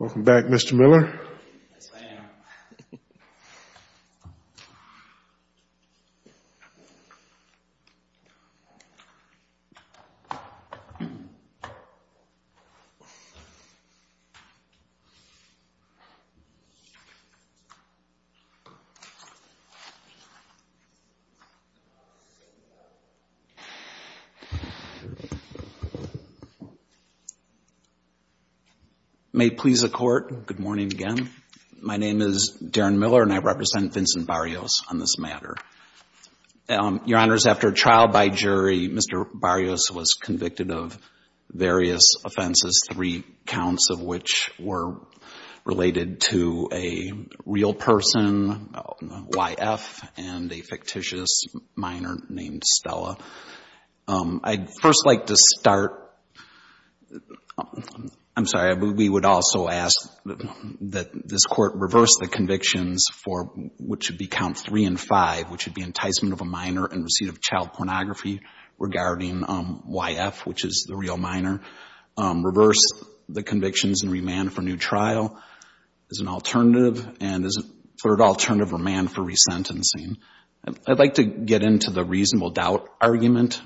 Welcome back, Mr. Miller. May it please the Court, good morning again. My name is Darren Miller and I represent Vincent Barrios on this matter. Your Honors, after a trial by jury, Mr. Barrios was convicted of various offenses, three counts of which were related to a real person, YF, and a fictitious minor named Stella. I'd first like to start, I'm sorry, we would also ask that this Court reverse the convictions for what should be count three and five, which would be enticement of a minor and receipt of child pornography regarding YF, which is the real minor. Reverse the convictions and remand for new trial as an alternative, and as a third alternative, remand for resentencing. I'd like to get into the reasonable doubt argument.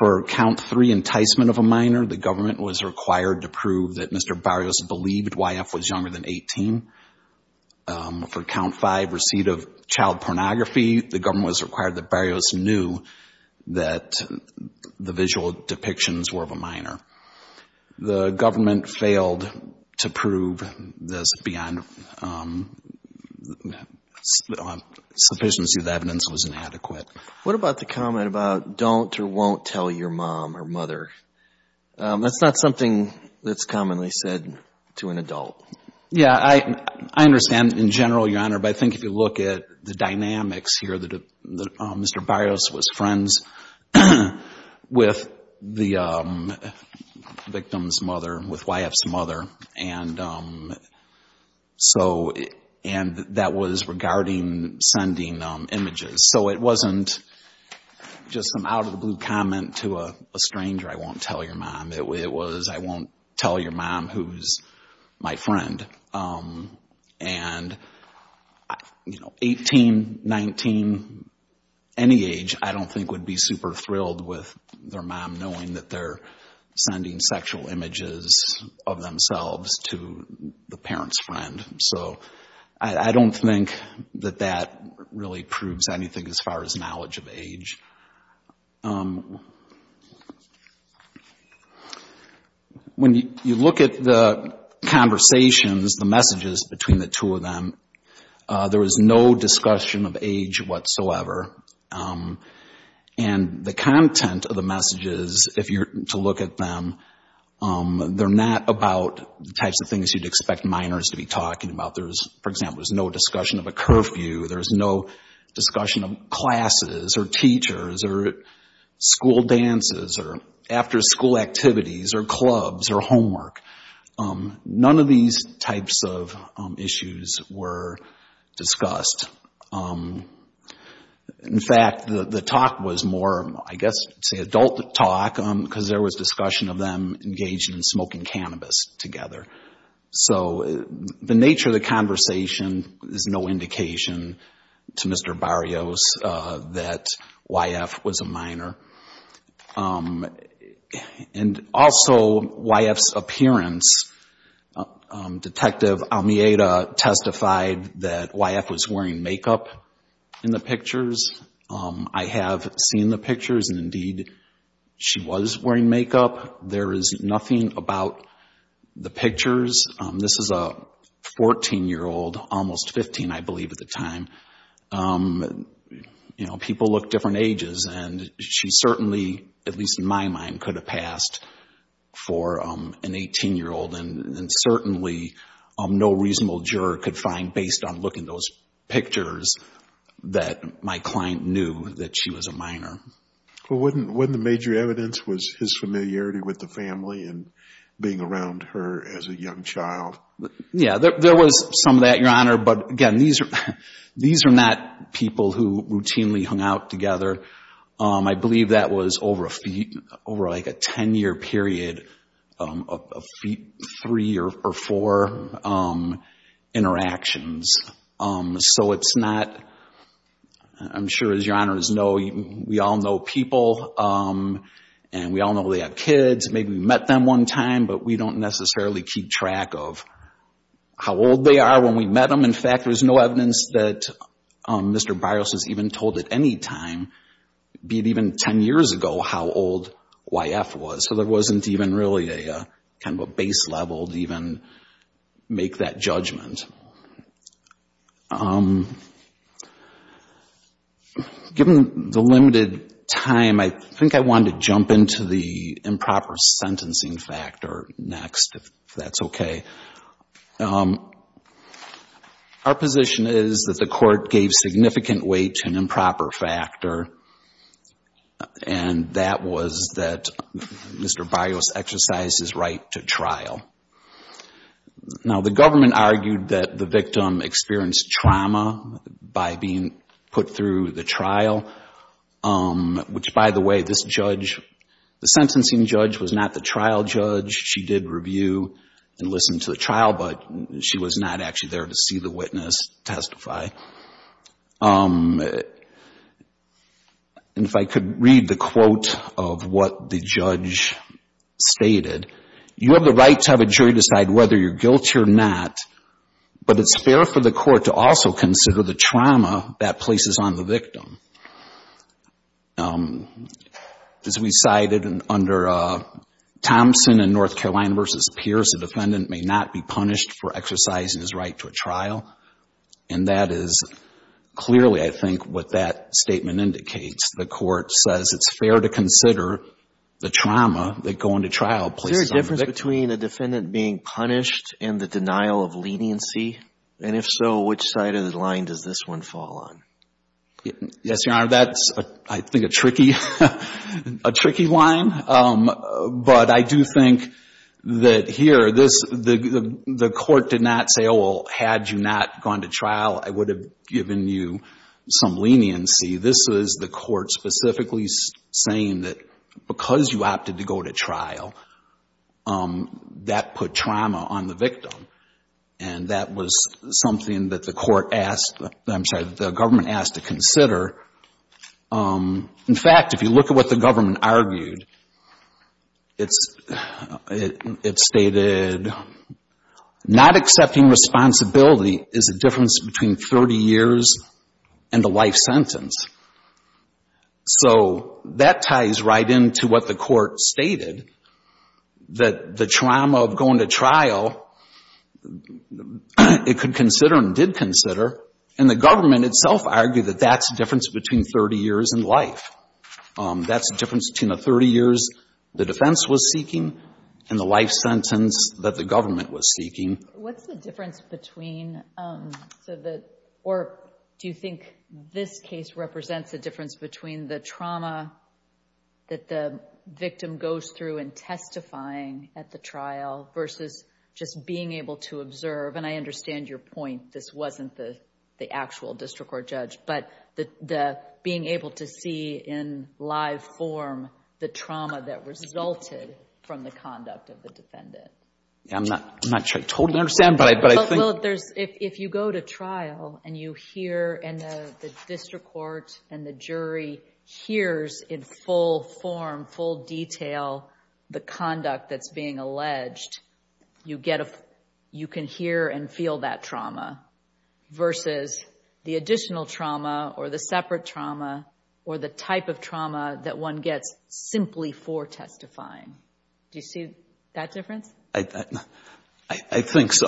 For count three, enticement of a minor, the government was required to prove that Mr. Barrios believed YF was younger than 18. For count five, receipt of child pornography, the government was required that Barrios knew that the visual depictions were of a minor. The government failed to prove this beyond sufficiency of evidence was inadequate. What about the comment about don't or won't tell your mom or mother? That's not something that's commonly said to an adult. Yeah, I understand in general, Your Honor, but I think if you look at the dynamics here, Mr. Barrios was friends with the victim's mother, with YF's mother, and that was regarding sending images. So it wasn't just some out-of-the-blue comment to a stranger, I won't tell your mom. It was, I won't tell your mom who's my friend. And 18, 19, any age, I don't think would be super thrilled with their mom knowing that they're sending sexual images of themselves to the parent's friend. So I don't think that that really proves anything as far as knowledge of age. When you look at the conversations, the messages between the two of them, there was no discussion of age whatsoever. And the content of the messages, if you're to look at them, they're not about the types of things you'd expect minors to be talking about. There's, for example, there's no discussion of a curfew. There's no discussion of classes or teachers or school dances or after-school activities or clubs or homework. None of these types of issues were discussed. In fact, the talk was more, I guess, say adult talk because there was discussion of them engaging in smoking cannabis together. So the nature of the conversation is no indication to Mr. Barrios that YF was a minor. And also, YF's appearance, Detective Almeida testified that YF was wearing makeup in the pictures. I have seen the pictures, and indeed, she was wearing makeup. There is nothing about the pictures. This is a 14-year-old, almost 15, I believe, at the time. People look different ages, and she certainly, at least in my mind, could have passed for an 18-year-old. And certainly, no reasonable juror could find, based on looking at those pictures, that my client knew that she was a minor. Well, wasn't the major evidence his familiarity with the family and being around her as a young child? Yeah, there was some of that, Your Honor. But again, these are not people who routinely hung out together. I believe that was over a 10-year period of three or four interactions. So it's not — I'm sure, as Your Honors know, we all know people, and we all know they have kids. Maybe we met them one time, but we don't necessarily keep track of how old they are when we met them. And in fact, there's no evidence that Mr. Byros has even told at any time, be it even 10 years ago, how old YF was. So there wasn't even really a kind of a base level to even make that judgment. Given the limited time, I think I wanted to jump into the improper sentencing factor next, if that's okay. Our position is that the court gave significant weight to an improper factor, and that was that Mr. Byros exercised his right to trial. Now, the government argued that the victim experienced trauma by being put through the trial, which, by the way, this judge, the sentencing judge, was not the trial judge. She did review and listen to the trial, but she was not actually there to see the witness testify. And if I could read the quote of what the judge stated, you have the right to have a jury decide whether you're guilty or not, but it's fair for the court to also consider the trauma that places on the victim. As we cited under Thompson in North Carolina v. Pierce, the defendant may not be punished for exercising his right to a trial, and that is clearly, I think, what that statement indicates. The court says it's fair to consider the trauma that going to trial places on the victim. Is there a difference between a defendant being punished and the denial of leniency? And if so, which side of the line does this one fall on? Yes, Your Honor, that's, I think, a tricky line. But I do think that here, the court did not say, oh, well, had you not gone to trial, I would have given you some leniency. This is the court specifically saying that because you opted to go to trial, that put trauma on the victim. And that was something that the court asked, I'm sorry, the government asked to consider. In fact, if you look at what the government argued, it stated not accepting responsibility is a difference between 30 years and a life sentence. So that ties right into what the court stated, that the trauma of going to trial, it could consider and did consider, and the government itself argued that that's a difference between 30 years and life. That's a difference between the 30 years the defense was seeking and the life sentence that the government was seeking. What's the difference between, or do you think this case represents a difference between the trauma that the victim goes through in testifying at the trial versus just being able to observe? And I understand your point, this wasn't the actual district court judge, but being able to see in live form the trauma that resulted from the conduct of the defendant. I'm not sure I totally understand, but I think... Well, if you go to trial and you hear, and the district court and the jury hears in full form, full detail, the conduct that's being alleged, you can hear and feel that trauma, versus the additional trauma or the separate trauma or the type of trauma that one gets simply for testifying. Do you see that difference? I think so.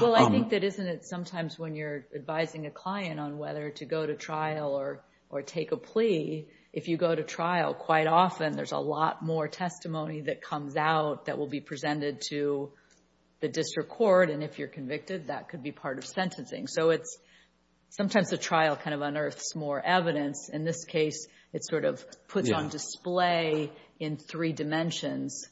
Well, I think that isn't it sometimes when you're advising a client on whether to go to trial or take a plea. If you go to trial, quite often there's a lot more testimony that comes out that will be presented to the district court. And if you're convicted, that could be part of sentencing. So sometimes the trial kind of unearths more evidence. In this case, it sort of puts on display in three dimensions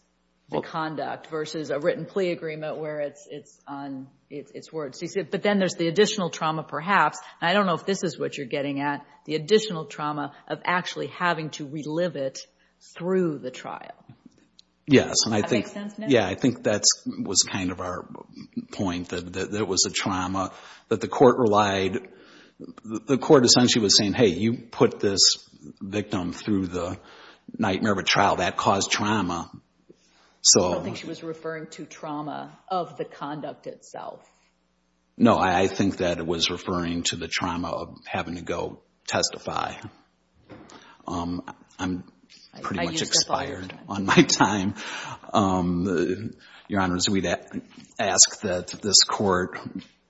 the conduct versus a written plea agreement where it's on its words. But then there's the additional trauma, perhaps, and I don't know if this is what you're getting at, the additional trauma of actually having to relive it through the trial. Does that make sense now? Yeah, I think that was kind of our point, that it was a trauma that the court relied... The court essentially was saying, hey, you put this victim through the nightmare of a trial. That caused trauma. I don't think she was referring to trauma of the conduct itself. No, I think that it was referring to the trauma of having to go testify. I'm pretty much expired on my time. Your Honors, we'd ask that this court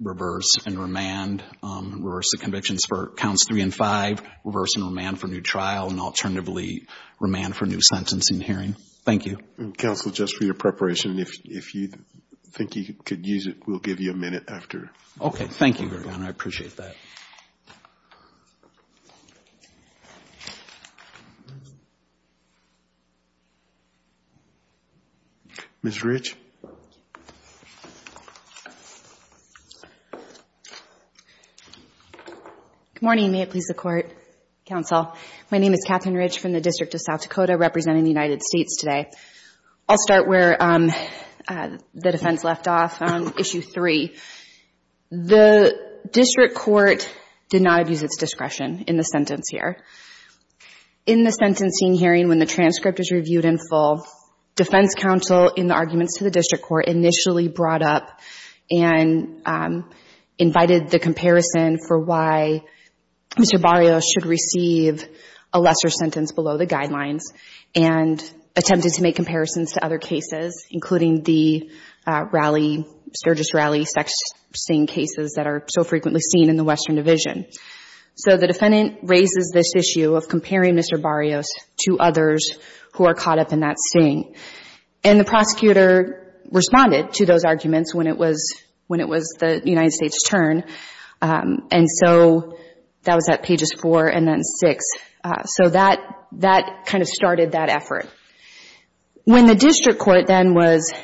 reverse and remand, reverse the convictions for counts three and five, reverse and remand for new trial, and alternatively remand for new sentencing hearing. Thank you. Counsel, just for your preparation, if you think you could use it, we'll give you a minute after. Okay, thank you very much. I appreciate that. Ms. Ridge. Good morning. May it please the Court, Counsel. My name is Catherine Ridge from the District of South Dakota, representing the United States today. I'll start where the defense left off, on issue three. The district court did not abuse its discretion in the sentence here. In the sentencing hearing, when the transcript was reviewed in full, defense counsel, in the arguments to the district court, initially brought up and invited the comparison for why Mr. Barrios should receive a lesser sentence below the guidelines, and attempted to make comparisons to other cases, including the rally, Sturgis rally sex sting cases that are so frequently seen in the Western Division. So the defendant raises this issue of comparing Mr. Barrios to others who are caught up in that sting. And the prosecutor responded to those arguments when it was the United States' turn, and so that was at pages four and then six. So that kind of started that effort. When the district court then was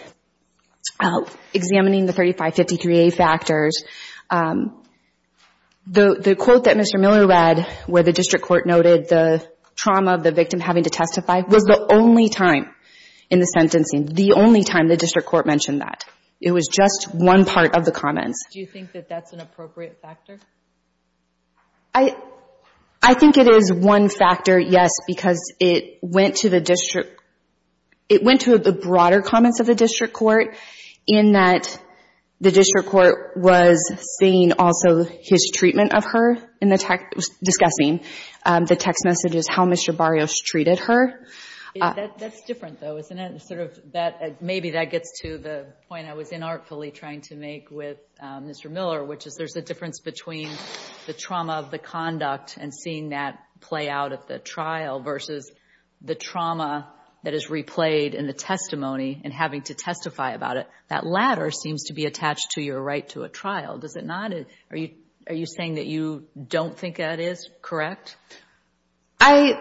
examining the 3553A factors, the quote that Mr. Miller read, where the district court noted the trauma of the victim having to testify, was the only time in the sentencing, the only time the district court mentioned that. It was just one part of the comments. Do you think that that's an appropriate factor? I think it is one factor, yes, because it went to the district. It went to the broader comments of the district court in that the district court was seeing also his treatment of her in the text, discussing the text messages, how Mr. Barrios treated her. That's different, though, isn't it? Maybe that gets to the point I was inartfully trying to make with Mr. Miller, which is there's a difference between the trauma of the conduct and seeing that play out at the trial versus the trauma that is replayed in the testimony and having to testify about it. That latter seems to be attached to your right to a trial, does it not? Are you saying that you don't think that is correct? I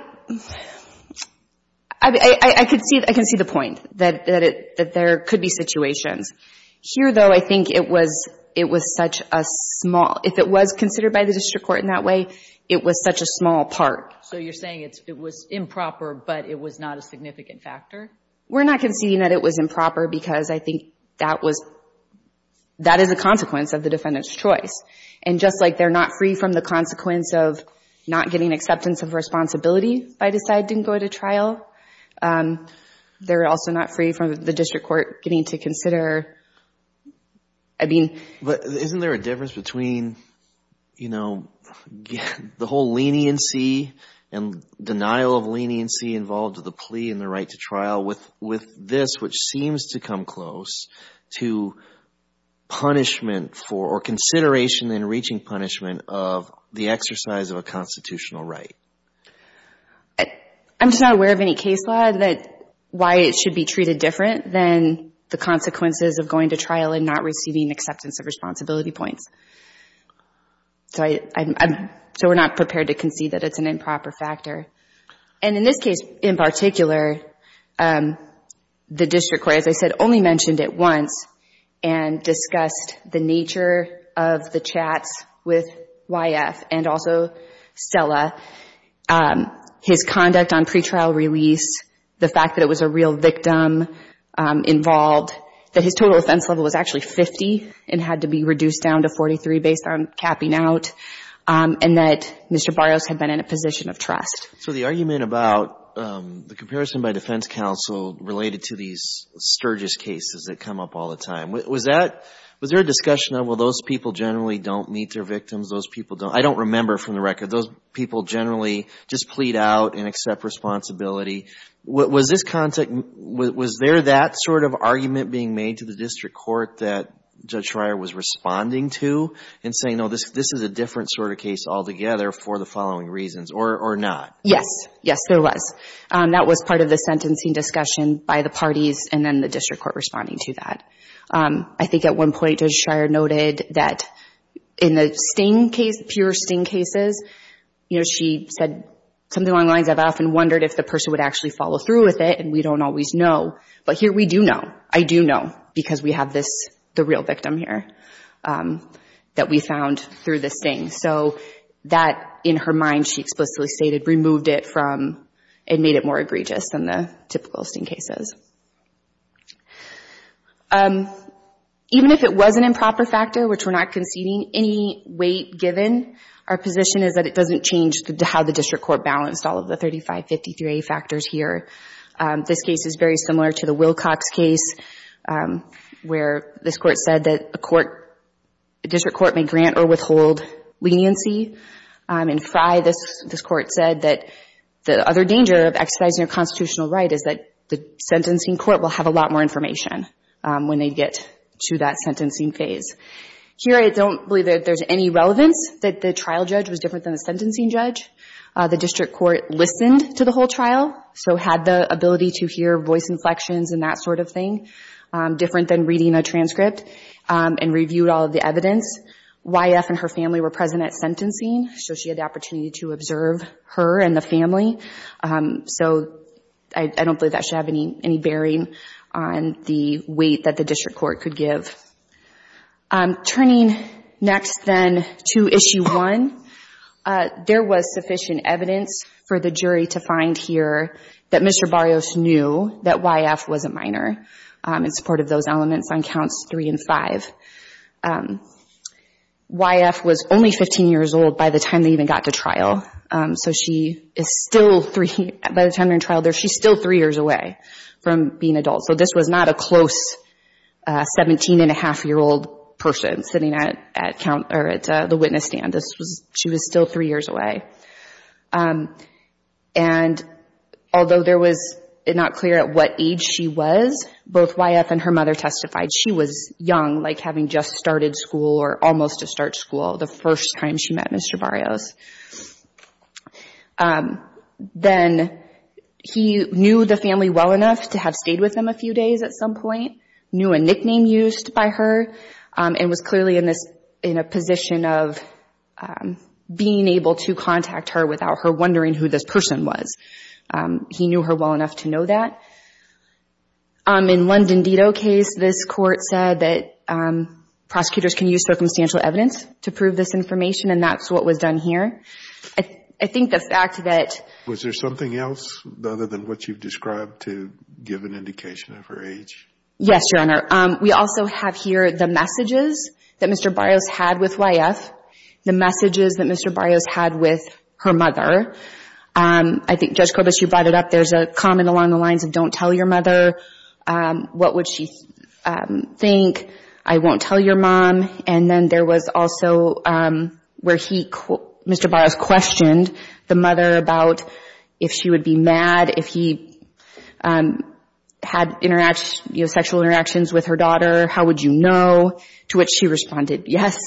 can see the point, that there could be situations. Here, though, I think it was such a small – if it was considered by the district court in that way, it was such a small part. So you're saying it was improper, but it was not a significant factor? We're not conceding that it was improper because I think that is a consequence of the defendant's choice. And just like they're not free from the consequence of not getting acceptance of responsibility if I decide I didn't go to trial, they're also not free from the district court getting to consider – I mean – But isn't there a difference between the whole leniency and denial of leniency involved with the plea and the right to trial with this, which seems to come close to punishment for – or consideration in reaching punishment of the exercise of a constitutional right? I'm just not aware of any case law that – why it should be treated different than the consequences of going to trial and not receiving acceptance of responsibility points. So we're not prepared to concede that it's an improper factor. And in this case in particular, the district court, as I said, only mentioned it once and discussed the nature of the chats with YF and also Stella, his conduct on pretrial release, the fact that it was a real victim involved, that his total offense level was actually 50 and had to be reduced down to 43 based on capping out, and that Mr. Barrios had been in a position of trust. So the argument about the comparison by defense counsel related to these Sturgis cases that come up all the time, was that – was there a discussion of, well, those people generally don't meet their victims, those people don't – I don't remember from the record – those people generally just plead out and accept responsibility? Was this – was there that sort of argument being made to the district court that Judge Schreier was responding to and saying, no, this is a different sort of case altogether for the following reasons, or not? Yes. Yes, there was. That was part of the sentencing discussion by the parties and then the district court responding to that. I think at one point Judge Schreier noted that in the Sting case, pure Sting cases, you know, she said something along the lines of, I've often wondered if the person would actually follow through with it, and we don't always know, but here we do know. I do know, because we have this – the real victim here that we found through the Sting. So that, in her mind, she explicitly stated, removed it from – it made it more egregious than the typical Sting cases. Even if it was an improper factor, which we're not conceding any weight given, our position is that it doesn't change how the district court balanced all of the 3553A factors here. This case is very similar to the Wilcox case, where this court said that a court – a district court may grant or withhold leniency. In Frye, this court said that the other danger of exercising a constitutional right is that the sentencing court will have a lot more information when they get to that sentencing phase. Here, I don't believe that there's any relevance that the trial judge was different than the sentencing judge. The district court listened to the whole trial, so had the ability to hear voice inflections and that sort of thing, different than reading a transcript, and reviewed all of the evidence. YF and her family were present at sentencing, so she had the opportunity to observe her and the family. So I don't believe that should have any bearing on the weight that the district court could give. Turning next, then, to Issue 1, there was sufficient evidence for the jury to find here that Mr. Barrios knew that YF was a minor, in support of those elements on Counts 3 and 5. YF was only 15 years old by the time they even got to trial, so she is still – by the time they're in trial, she's still three years away from being an adult. So this was not a close 17-and-a-half-year-old person sitting at the witness stand. This was – she was still three years away. And although there was not clear at what age she was, both YF and her mother testified she was young, like having just started school or almost to start school, the first time she met Mr. Barrios. Then he knew the family well enough to have stayed with them a few days at some point, knew a nickname used by her, and was clearly in this – in a position of being able to contact her without her wondering who this person was. He knew her well enough to know that. In Lundendito case, this court said that prosecutors can use circumstantial evidence to prove this information, and that's what was done here. I think the fact that – was there something else other than what you've described to give an indication of her age? Yes, Your Honor. We also have here the messages that Mr. Barrios had with YF, the messages that Mr. Barrios had with her mother. I think, Judge Corbis, you brought it up. There's a comment along the lines of, I won't tell your mother. What would she think? I won't tell your mom. And then there was also where he – Mr. Barrios questioned the mother about if she would be mad, if he had sexual interactions with her daughter. How would you know? To which she responded, yes.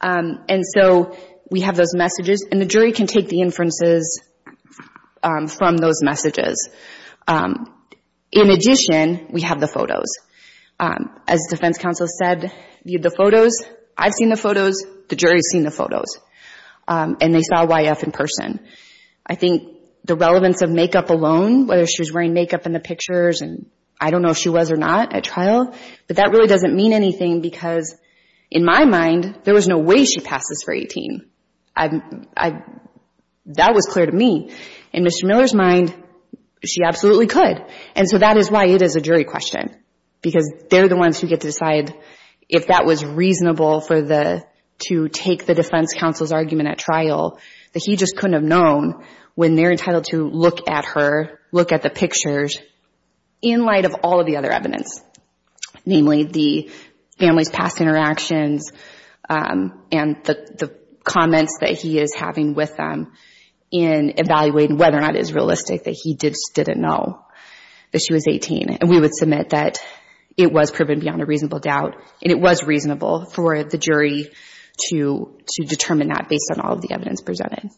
And so we have those messages, and the jury can take the inferences from those messages. In addition, we have the photos. As the defense counsel said, the photos – I've seen the photos. The jury's seen the photos, and they saw YF in person. I think the relevance of makeup alone, whether she was wearing makeup in the pictures, and I don't know if she was or not at trial, but that really doesn't mean anything because, in my mind, there was no way she passes for 18. That was clear to me. In Mr. Miller's mind, she absolutely could. And so that is why it is a jury question. Because they're the ones who get to decide if that was reasonable to take the defense counsel's argument at trial, that he just couldn't have known when they're entitled to look at her, look at the pictures, in light of all of the other evidence, namely the family's past interactions and the comments that he is having with them in evaluating whether or not it is realistic that he just didn't know that she was 18. And we would submit that it was proven beyond a reasonable doubt, and it was reasonable for the jury to determine that based on all of the evidence presented.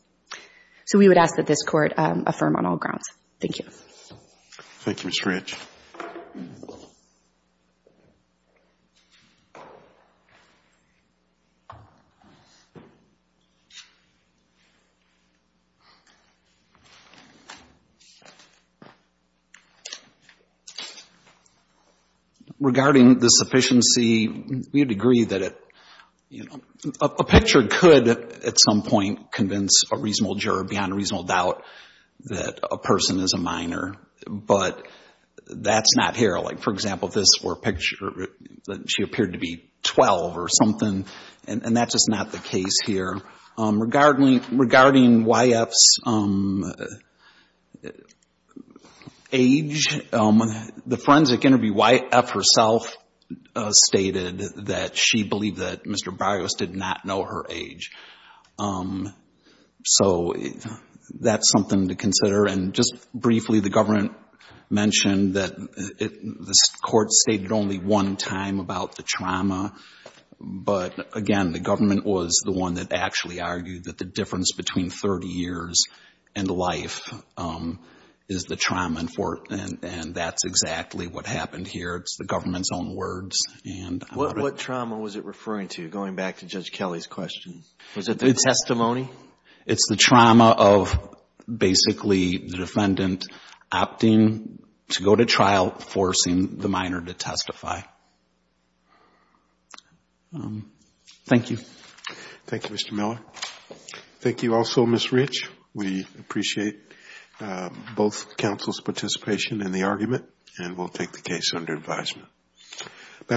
So we would ask that this Court affirm on all grounds. Thank you. Thank you, Mr. Ranch. Regarding the sufficiency, we would agree that a picture could, at some point, convince a reasonable juror, beyond a reasonable doubt, that a person is a minor. But that's not here. Like, for example, if this were a picture that she appeared to be 12 or something, and that's just not the case here. Regarding YF's age, the forensic interview, YF herself stated that she believed that Mr. Barrios did not know her age. So that's something to consider. And just briefly, the government mentioned that this Court stated only one time about the trauma. But, again, the government was the one that actually argued that the difference between 30 years and life is the trauma. And that's exactly what happened here. It's the government's own words. What trauma was it referring to, going back to Judge Kelly's question? Was it the testimony? It's the trauma of, basically, the defendant opting to go to trial, forcing the minor to testify. Thank you. Thank you, Mr. Miller.